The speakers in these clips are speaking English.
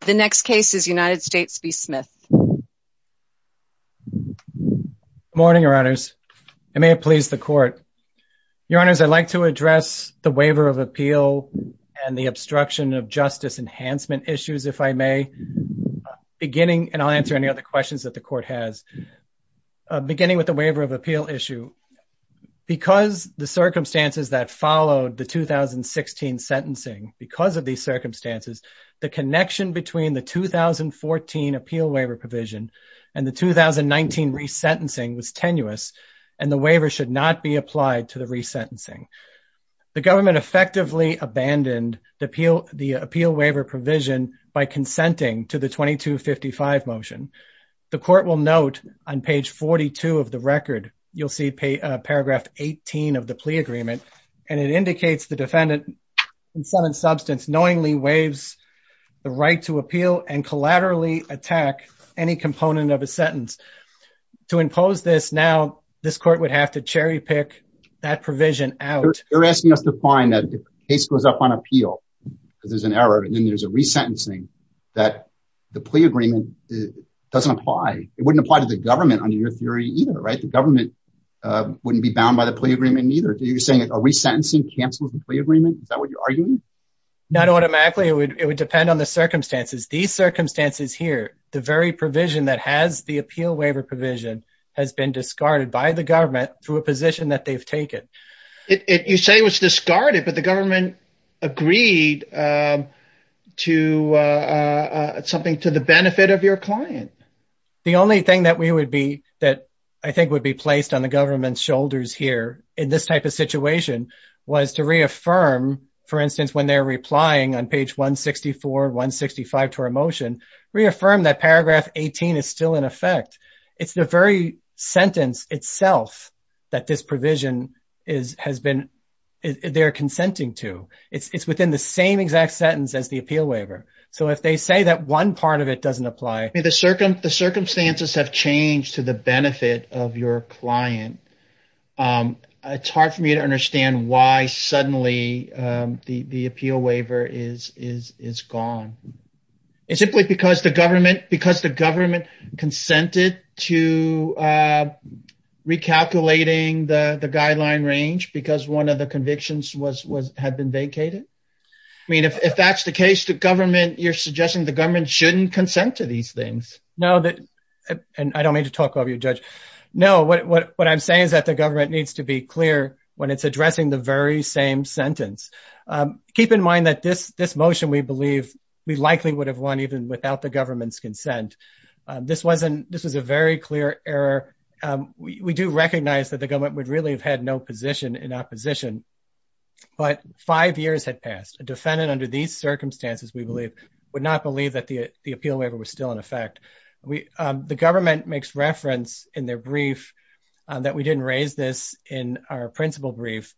The next case is United States v. Smith. Good morning, Your Honors. I may have pleased the Court. Your Honors, I'd like to address the waiver of appeal and the obstruction of justice enhancement issues, if I may, beginning, and I'll answer any other questions that the Court has. Beginning with the waiver of appeal issue, because the circumstances that followed the 2016 sentencing, because of these circumstances, the connection between the 2014 appeal waiver provision and the 2019 resentencing was tenuous, and the waiver should not be applied to the resentencing. The government effectively abandoned the appeal waiver provision by consenting to the 2255 motion. The Court will note on page 42 of the record, you'll see paragraph 18 of the plea agreement, and it indicates the defendant in some substance knowingly waives the right to appeal and collaterally attack any component of a sentence. To impose this now, this Court would have to cherry pick that provision out. You're asking us to find that the case goes up on appeal because there's an error, and then there's a resentencing that the plea agreement doesn't apply. It wouldn't apply to the government under your theory either, right? The government wouldn't be bound by the plea agreement either. You're saying a resentencing cancels the plea agreement? Is that what you're arguing? Not automatically. It would depend on the circumstances. These circumstances here, the very provision that has the appeal waiver provision, has been discarded by the government through a position that they've taken. You say it was discarded, but the government agreed to something to the benefit of your client. The only thing that I think would be placed on the government's shoulders here in this type of situation was to reaffirm, for instance, when they're replying on page 164, 165 to our motion, reaffirm that paragraph 18 is still in effect. It's the very sentence itself that this provision, they're consenting to. It's within the same exact sentence as the appeal waiver. If they say that one part of it doesn't apply. The circumstances have changed to the benefit of your client. It's hard for me to understand why suddenly the appeal waiver is gone. Is it simply because the government consented to recalculating the guideline range because one of the convictions had been vacated? I mean, if that's the case, the government, you're suggesting the government shouldn't consent to these things. No, and I don't mean to talk over you, Judge. No, what I'm saying is that the government needs to be clear when it's addressing the very same sentence. Keep in mind that this motion, we believe, we likely would have won even without the government's consent. This was a very clear error. We do recognize that the government would really have had no position in opposition, but five years had passed. A defendant under these circumstances, we believe, would not believe that the appeal waiver was still in effect. The government makes reference in their brief that we didn't raise this in our principal brief.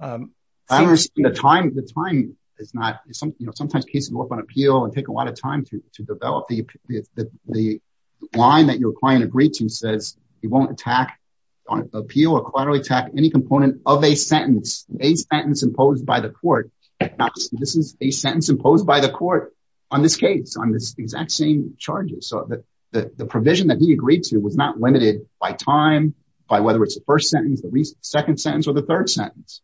I don't understand the time. The time is not, you know, sometimes cases go up on appeal and take a lot of time to develop. The line that your client agreed to says he won't attack on appeal or quarterly attack any component of a sentence, a sentence imposed by the court. This is a sentence imposed by the court on this case, on this exact same charges. So the provision that he agreed to was not limited by time, by whether it's the first sentence, the second sentence or the third sentence.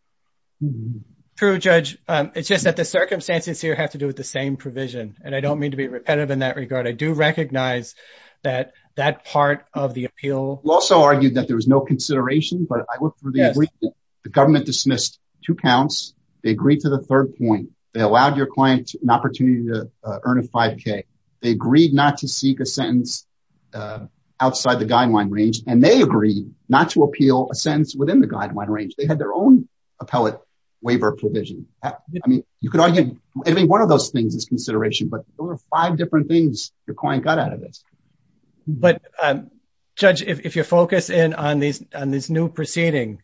True, Judge. It's just that the circumstances here have to do with the same provision, and I don't mean to be repetitive in that regard. I do recognize that that part of the appeal. We also argued that there was no consideration, but I looked through the agreement. The government dismissed two counts. They agreed to the third point. They allowed your client an opportunity to earn a five K. They agreed not to seek a sentence outside the guideline range, and they agreed not to appeal a sentence within the guideline range. They had their own appellate waiver provision. I mean, you could argue any one of those things is consideration. But there were five different things your client got out of this. But, Judge, if you focus in on this new proceeding,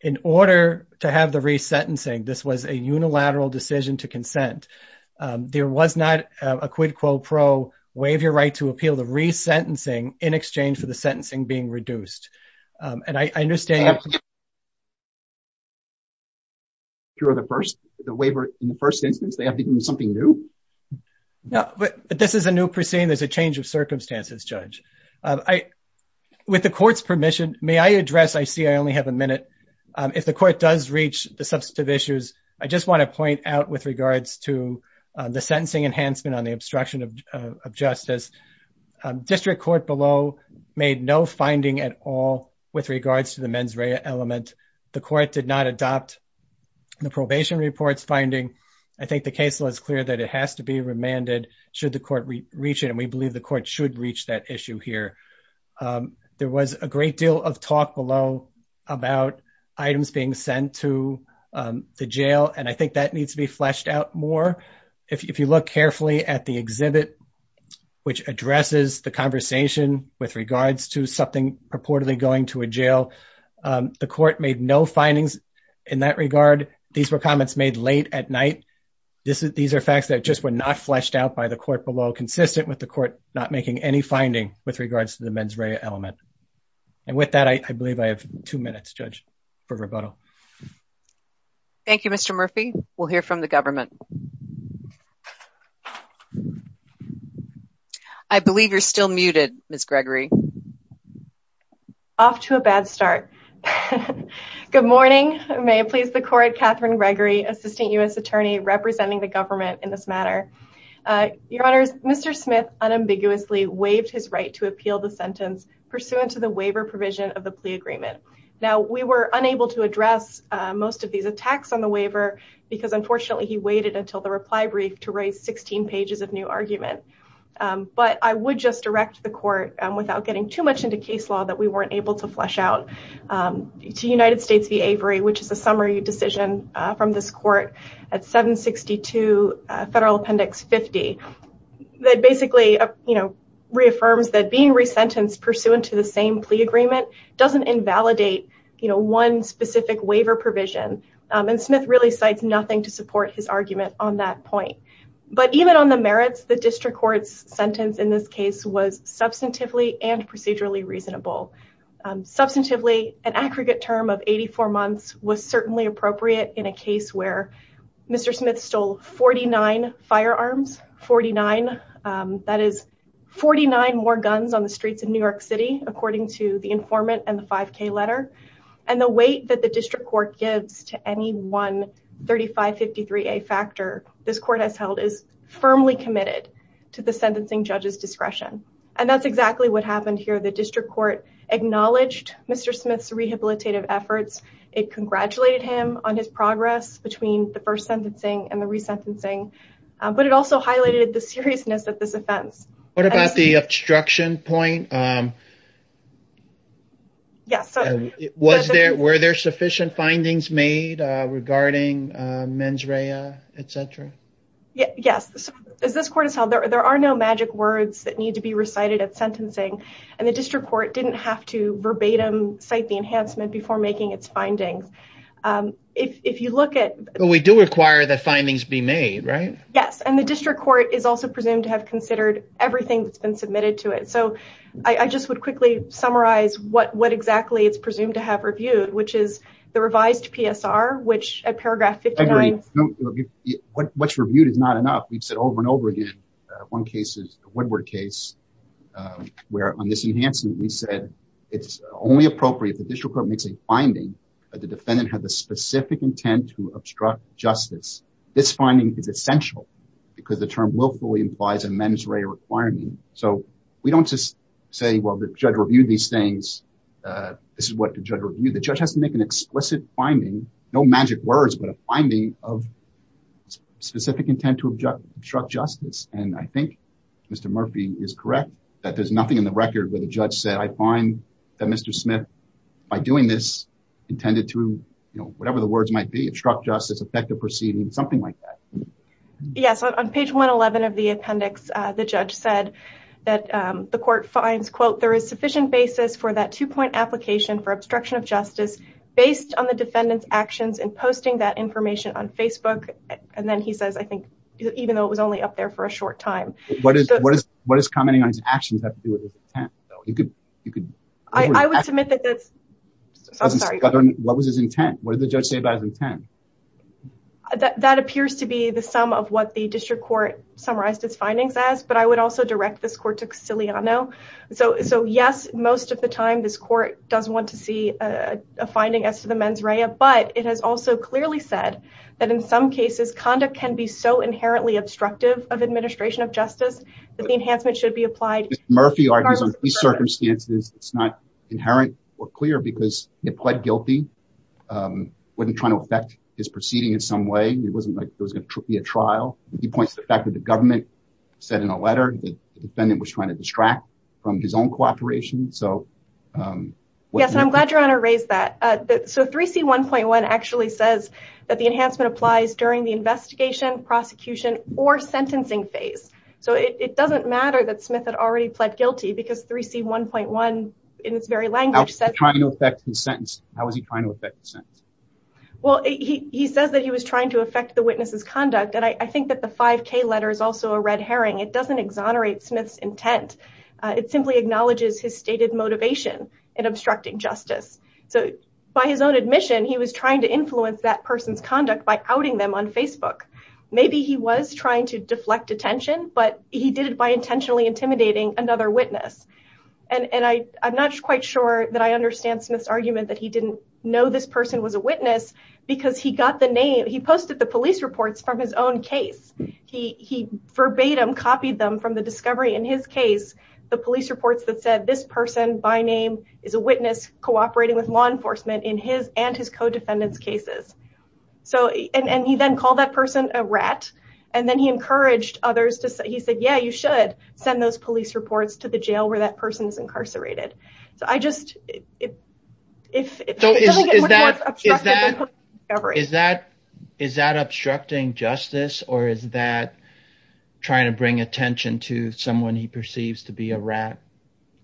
in order to have the re-sentencing, this was a unilateral decision to consent. There was not a quid pro quo waiver right to appeal the re-sentencing in exchange for the sentencing being reduced. And I understand. The waiver in the first instance, they have to do something new? No, but this is a new proceeding. There's a change of circumstances, Judge. With the court's permission, may I address, I see I only have a minute. If the court does reach the substantive issues, I just want to point out with regards to the sentencing enhancement on the obstruction of justice. District Court below made no finding at all with regards to the mens rea element. I think the case law is clear that it has to be remanded should the court reach it. And we believe the court should reach that issue here. There was a great deal of talk below about items being sent to the jail. And I think that needs to be fleshed out more. If you look carefully at the exhibit, which addresses the conversation with regards to something purportedly going to a jail, the court made no findings in that regard. These were comments made late at night. These are facts that just were not fleshed out by the court below, consistent with the court not making any finding with regards to the mens rea element. And with that, I believe I have two minutes, Judge, for rebuttal. Thank you, Mr. Murphy. We'll hear from the government. I believe you're still muted, Ms. Gregory. Off to a bad start. Good morning. May it please the court, Catherine Gregory, Assistant U.S. Attorney representing the government in this matter. Your Honor, Mr. Smith unambiguously waived his right to appeal the sentence pursuant to the waiver provision of the plea agreement. Now, we were unable to address most of these attacks on the waiver because, unfortunately, he waited until the reply brief to raise 16 pages of new argument. But I would just direct the court, without getting too much into case law, that we weren't able to flesh out to United States v. Avery, which is a summary decision from this court at 762 Federal Appendix 50, that basically reaffirms that being resentenced pursuant to the same plea agreement doesn't invalidate one specific waiver provision. And Smith really cites nothing to support his argument on that point. But even on the merits, the district court's sentence in this case was substantively and procedurally reasonable. Substantively, an aggregate term of 84 months was certainly appropriate in a case where Mr. Smith stole 49 firearms, 49. That is, 49 more guns on the streets of New York City, according to the informant and the 5K letter. And the weight that the district court gives to any one 3553A factor this court has held is firmly committed to the sentencing judge's discretion. And that's exactly what happened here. The district court acknowledged Mr. Smith's rehabilitative efforts. It congratulated him on his progress between the first sentencing and the resentencing. But it also highlighted the seriousness of this offense. What about the obstruction point? Yes. Was there, were there sufficient findings made regarding mens rea, etc.? Yes. As this court has held, there are no magic words that need to be recited at sentencing. And the district court didn't have to verbatim cite the enhancement before making its findings. If you look at. But we do require the findings be made, right? Yes. And the district court is also presumed to have considered everything that's been submitted to it. So I just would quickly summarize what what exactly it's presumed to have reviewed, which is the revised PSR, which at paragraph 59. What's reviewed is not enough. We've said over and over again. One case is the Woodward case where on this enhancement we said it's only appropriate. The district court makes a finding that the defendant had the specific intent to obstruct justice. This finding is essential because the term willfully implies a mens rea requirement. So we don't just say, well, the judge reviewed these things. This is what the judge reviewed. The judge has to make an explicit finding, no magic words, but a finding of specific intent to obstruct justice. And I think Mr. Murphy is correct that there's nothing in the record where the judge said, I find that Mr. Yes. On page 111 of the appendix, the judge said that the court finds, quote, there is sufficient basis for that two point application for obstruction of justice based on the defendant's actions and posting that information on Facebook. And then he says, I think, even though it was only up there for a short time. What is what is what is commenting on his actions? You could you could. I would submit that that's what was his intent. What did the judge say about his intent? That appears to be the sum of what the district court summarized its findings as. But I would also direct this court to Siliano. So. So, yes, most of the time this court doesn't want to see a finding as to the mens rea. But it has also clearly said that in some cases, conduct can be so inherently obstructive of administration of justice that the enhancement should be applied. Murphy argues on these circumstances. It's not inherent or clear because he pled guilty. Wasn't trying to affect his proceeding in some way. It wasn't like it was going to be a trial. He points to the fact that the government said in a letter that the defendant was trying to distract from his own cooperation. So, yes, I'm glad you want to raise that. So 3C1.1 actually says that the enhancement applies during the investigation, prosecution or sentencing phase. So it doesn't matter that Smith had already pled guilty because 3C1.1 in its very language said trying to affect the sentence. How is he trying to affect the sentence? Well, he says that he was trying to affect the witness's conduct. And I think that the five K letter is also a red herring. It doesn't exonerate Smith's intent. It simply acknowledges his stated motivation in obstructing justice. So by his own admission, he was trying to influence that person's conduct by outing them on Facebook. Maybe he was trying to deflect attention, but he did it by intentionally intimidating another witness. And I'm not quite sure that I understand Smith's argument that he didn't know this person was a witness because he got the name. He posted the police reports from his own case. He verbatim copied them from the discovery in his case. The police reports that said this person by name is a witness cooperating with law enforcement in his and his co-defendants cases. So and he then called that person a rat. And then he encouraged others to say he said, yeah, you should send those police reports to the jail where that person is incarcerated. So I just if so, is that is that is that is that obstructing justice or is that trying to bring attention to someone he perceives to be a rat?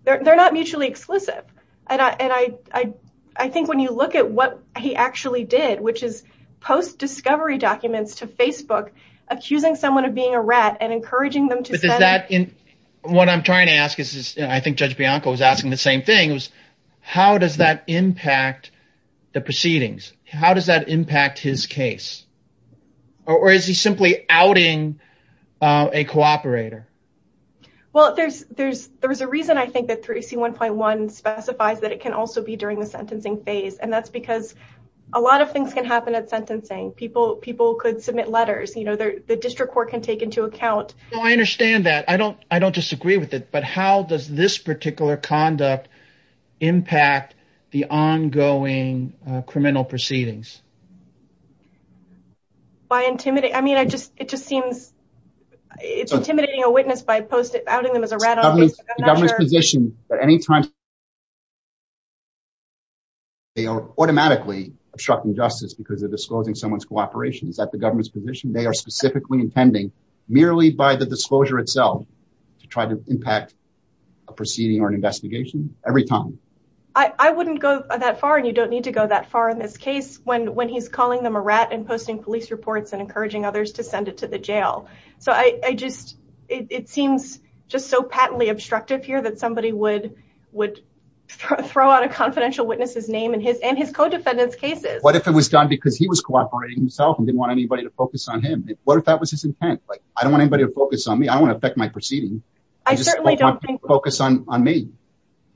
They're not mutually exclusive. And I think when you look at what he actually did, which is post discovery documents to Facebook, accusing someone of being a rat and encouraging them to. What I'm trying to ask is, I think Judge Bianco was asking the same thing was, how does that impact the proceedings? How does that impact his case? Or is he simply outing a cooperator? Well, there's there's there's a reason I think that 3C1.1 specifies that it can also be during the sentencing phase. And that's because a lot of things can happen at sentencing. People people could submit letters. You know, the district court can take into account. I understand that. I don't I don't disagree with it. But how does this particular conduct impact the ongoing criminal proceedings? By intimidating. I mean, I just it just seems it's intimidating a witness by posting outing them as a rat. The government's position that any time they are automatically obstructing justice because of disclosing someone's cooperation is that the government's position they are specifically intending merely by the disclosure itself to try to impact a proceeding or an investigation every time. I wouldn't go that far. And you don't need to go that far in this case when when he's calling them a rat and posting police reports and encouraging others to send it to the jail. So I just it seems just so patently obstructive here that somebody would would throw out a confidential witness's name and his and his co-defendants cases. What if it was done because he was cooperating himself and didn't want anybody to focus on him? What if that was his intent? Like, I don't want anybody to focus on me. I want to affect my proceeding. I certainly don't focus on me.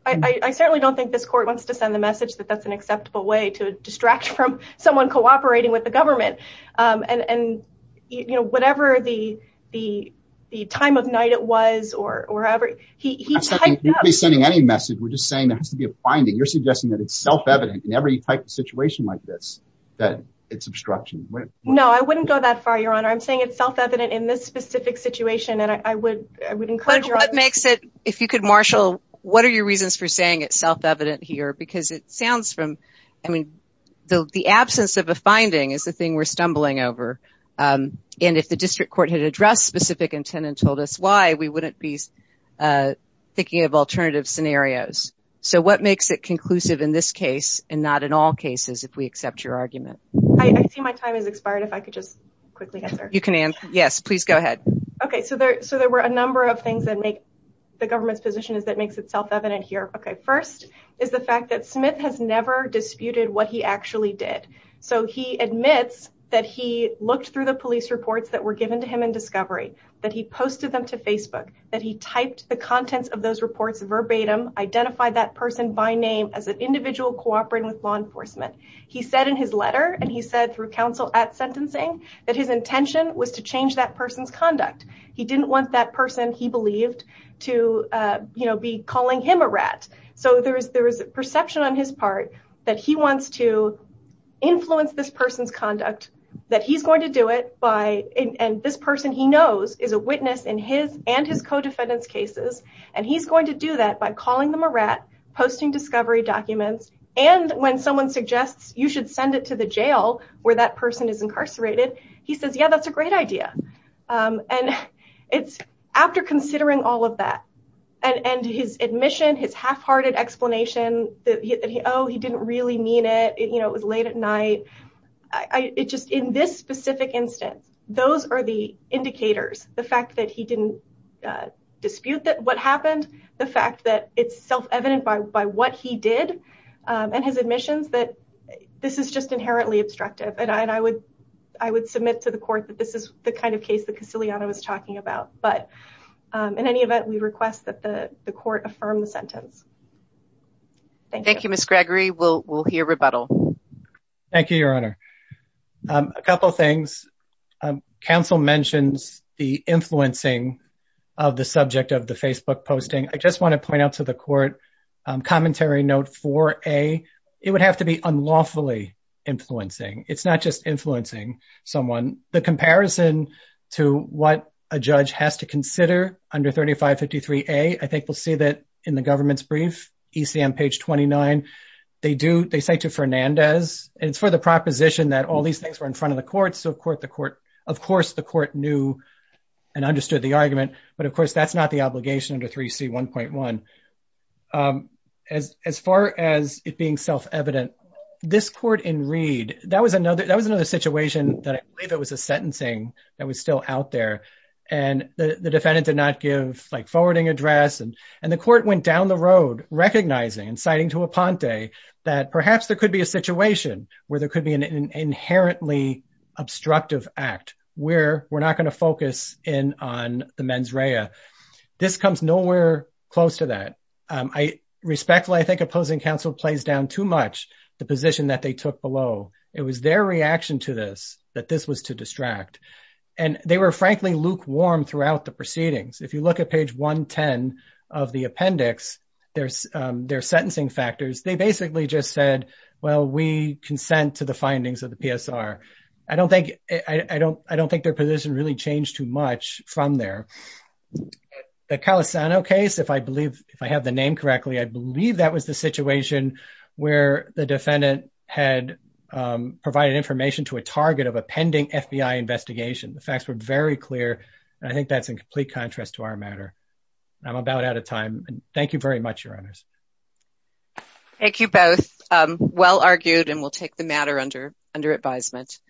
I certainly don't think this court wants to send the message that that's an acceptable way to distract from someone cooperating with the government. And, you know, whatever the the the time of night it was or wherever he was sending any message. We're just saying there has to be a finding. You're suggesting that it's self-evident in every type of situation like this, that it's obstruction. No, I wouldn't go that far, Your Honor. I'm saying it's self-evident in this specific situation. But what makes it, if you could, Marshall, what are your reasons for saying it's self-evident here? Because it sounds from, I mean, the absence of a finding is the thing we're stumbling over. And if the district court had addressed specific intent and told us why, we wouldn't be thinking of alternative scenarios. So what makes it conclusive in this case and not in all cases, if we accept your argument? I see my time has expired. If I could just quickly answer. You can answer. Yes, please go ahead. OK, so there so there were a number of things that make the government's position is that makes itself evident here. OK, first is the fact that Smith has never disputed what he actually did. So he admits that he looked through the police reports that were given to him in discovery, that he posted them to Facebook, that he typed the contents of those reports verbatim, identified that person by name as an individual cooperating with law enforcement. He said in his letter and he said through counsel at sentencing that his intention was to change that person's conduct. He didn't want that person, he believed, to be calling him a rat. So there is there is a perception on his part that he wants to influence this person's conduct, that he's going to do it by. And this person he knows is a witness in his and his co-defendants cases. And he's going to do that by calling them a rat, posting discovery documents. And when someone suggests you should send it to the jail where that person is incarcerated, he says, yeah, that's a great idea. And it's after considering all of that and his admission, his halfhearted explanation that, oh, he didn't really mean it. You know, it was late at night. It just in this specific instance, those are the indicators. The fact that he didn't dispute that what happened, the fact that it's self-evident by what he did and his admissions, that this is just inherently obstructive. And I would I would submit to the court that this is the kind of case that Castigliano was talking about. But in any event, we request that the court affirm the sentence. Thank you, Miss Gregory. We'll we'll hear rebuttal. Thank you, Your Honor. A couple of things. Counsel mentions the influencing of the subject of the Facebook posting. I just want to point out to the court commentary note for a it would have to be unlawfully influencing. It's not just influencing someone. The comparison to what a judge has to consider under thirty five fifty three. A I think we'll see that in the government's brief ECM page twenty nine. They do. They say to Fernandez, it's for the proposition that all these things were in front of the court. So, of course, the court, of course, the court knew and understood the argument. But, of course, that's not the obligation under three C one point one. As far as it being self-evident, this court in Reed, that was another that was another situation that there was a sentencing that was still out there. And the defendant did not give like forwarding address. And the court went down the road recognizing and citing to a Ponte that perhaps there could be a situation where there could be an inherently obstructive act where we're not going to focus in on the mens rea. This comes nowhere close to that. I respectfully I think opposing counsel plays down too much the position that they took below. It was their reaction to this, that this was to distract. And they were frankly lukewarm throughout the proceedings. If you look at page one, 10 of the appendix, there's their sentencing factors. They basically just said, well, we consent to the findings of the PSR. I don't think I don't I don't think their position really changed too much from there. The Calisano case, if I believe if I have the name correctly, I believe that was the situation where the defendant had provided information to a target of a pending FBI investigation. The facts were very clear. I think that's in complete contrast to our matter. I'm about out of time. Thank you very much, Your Honors. Thank you both. Well argued and we'll take the matter under under advisement.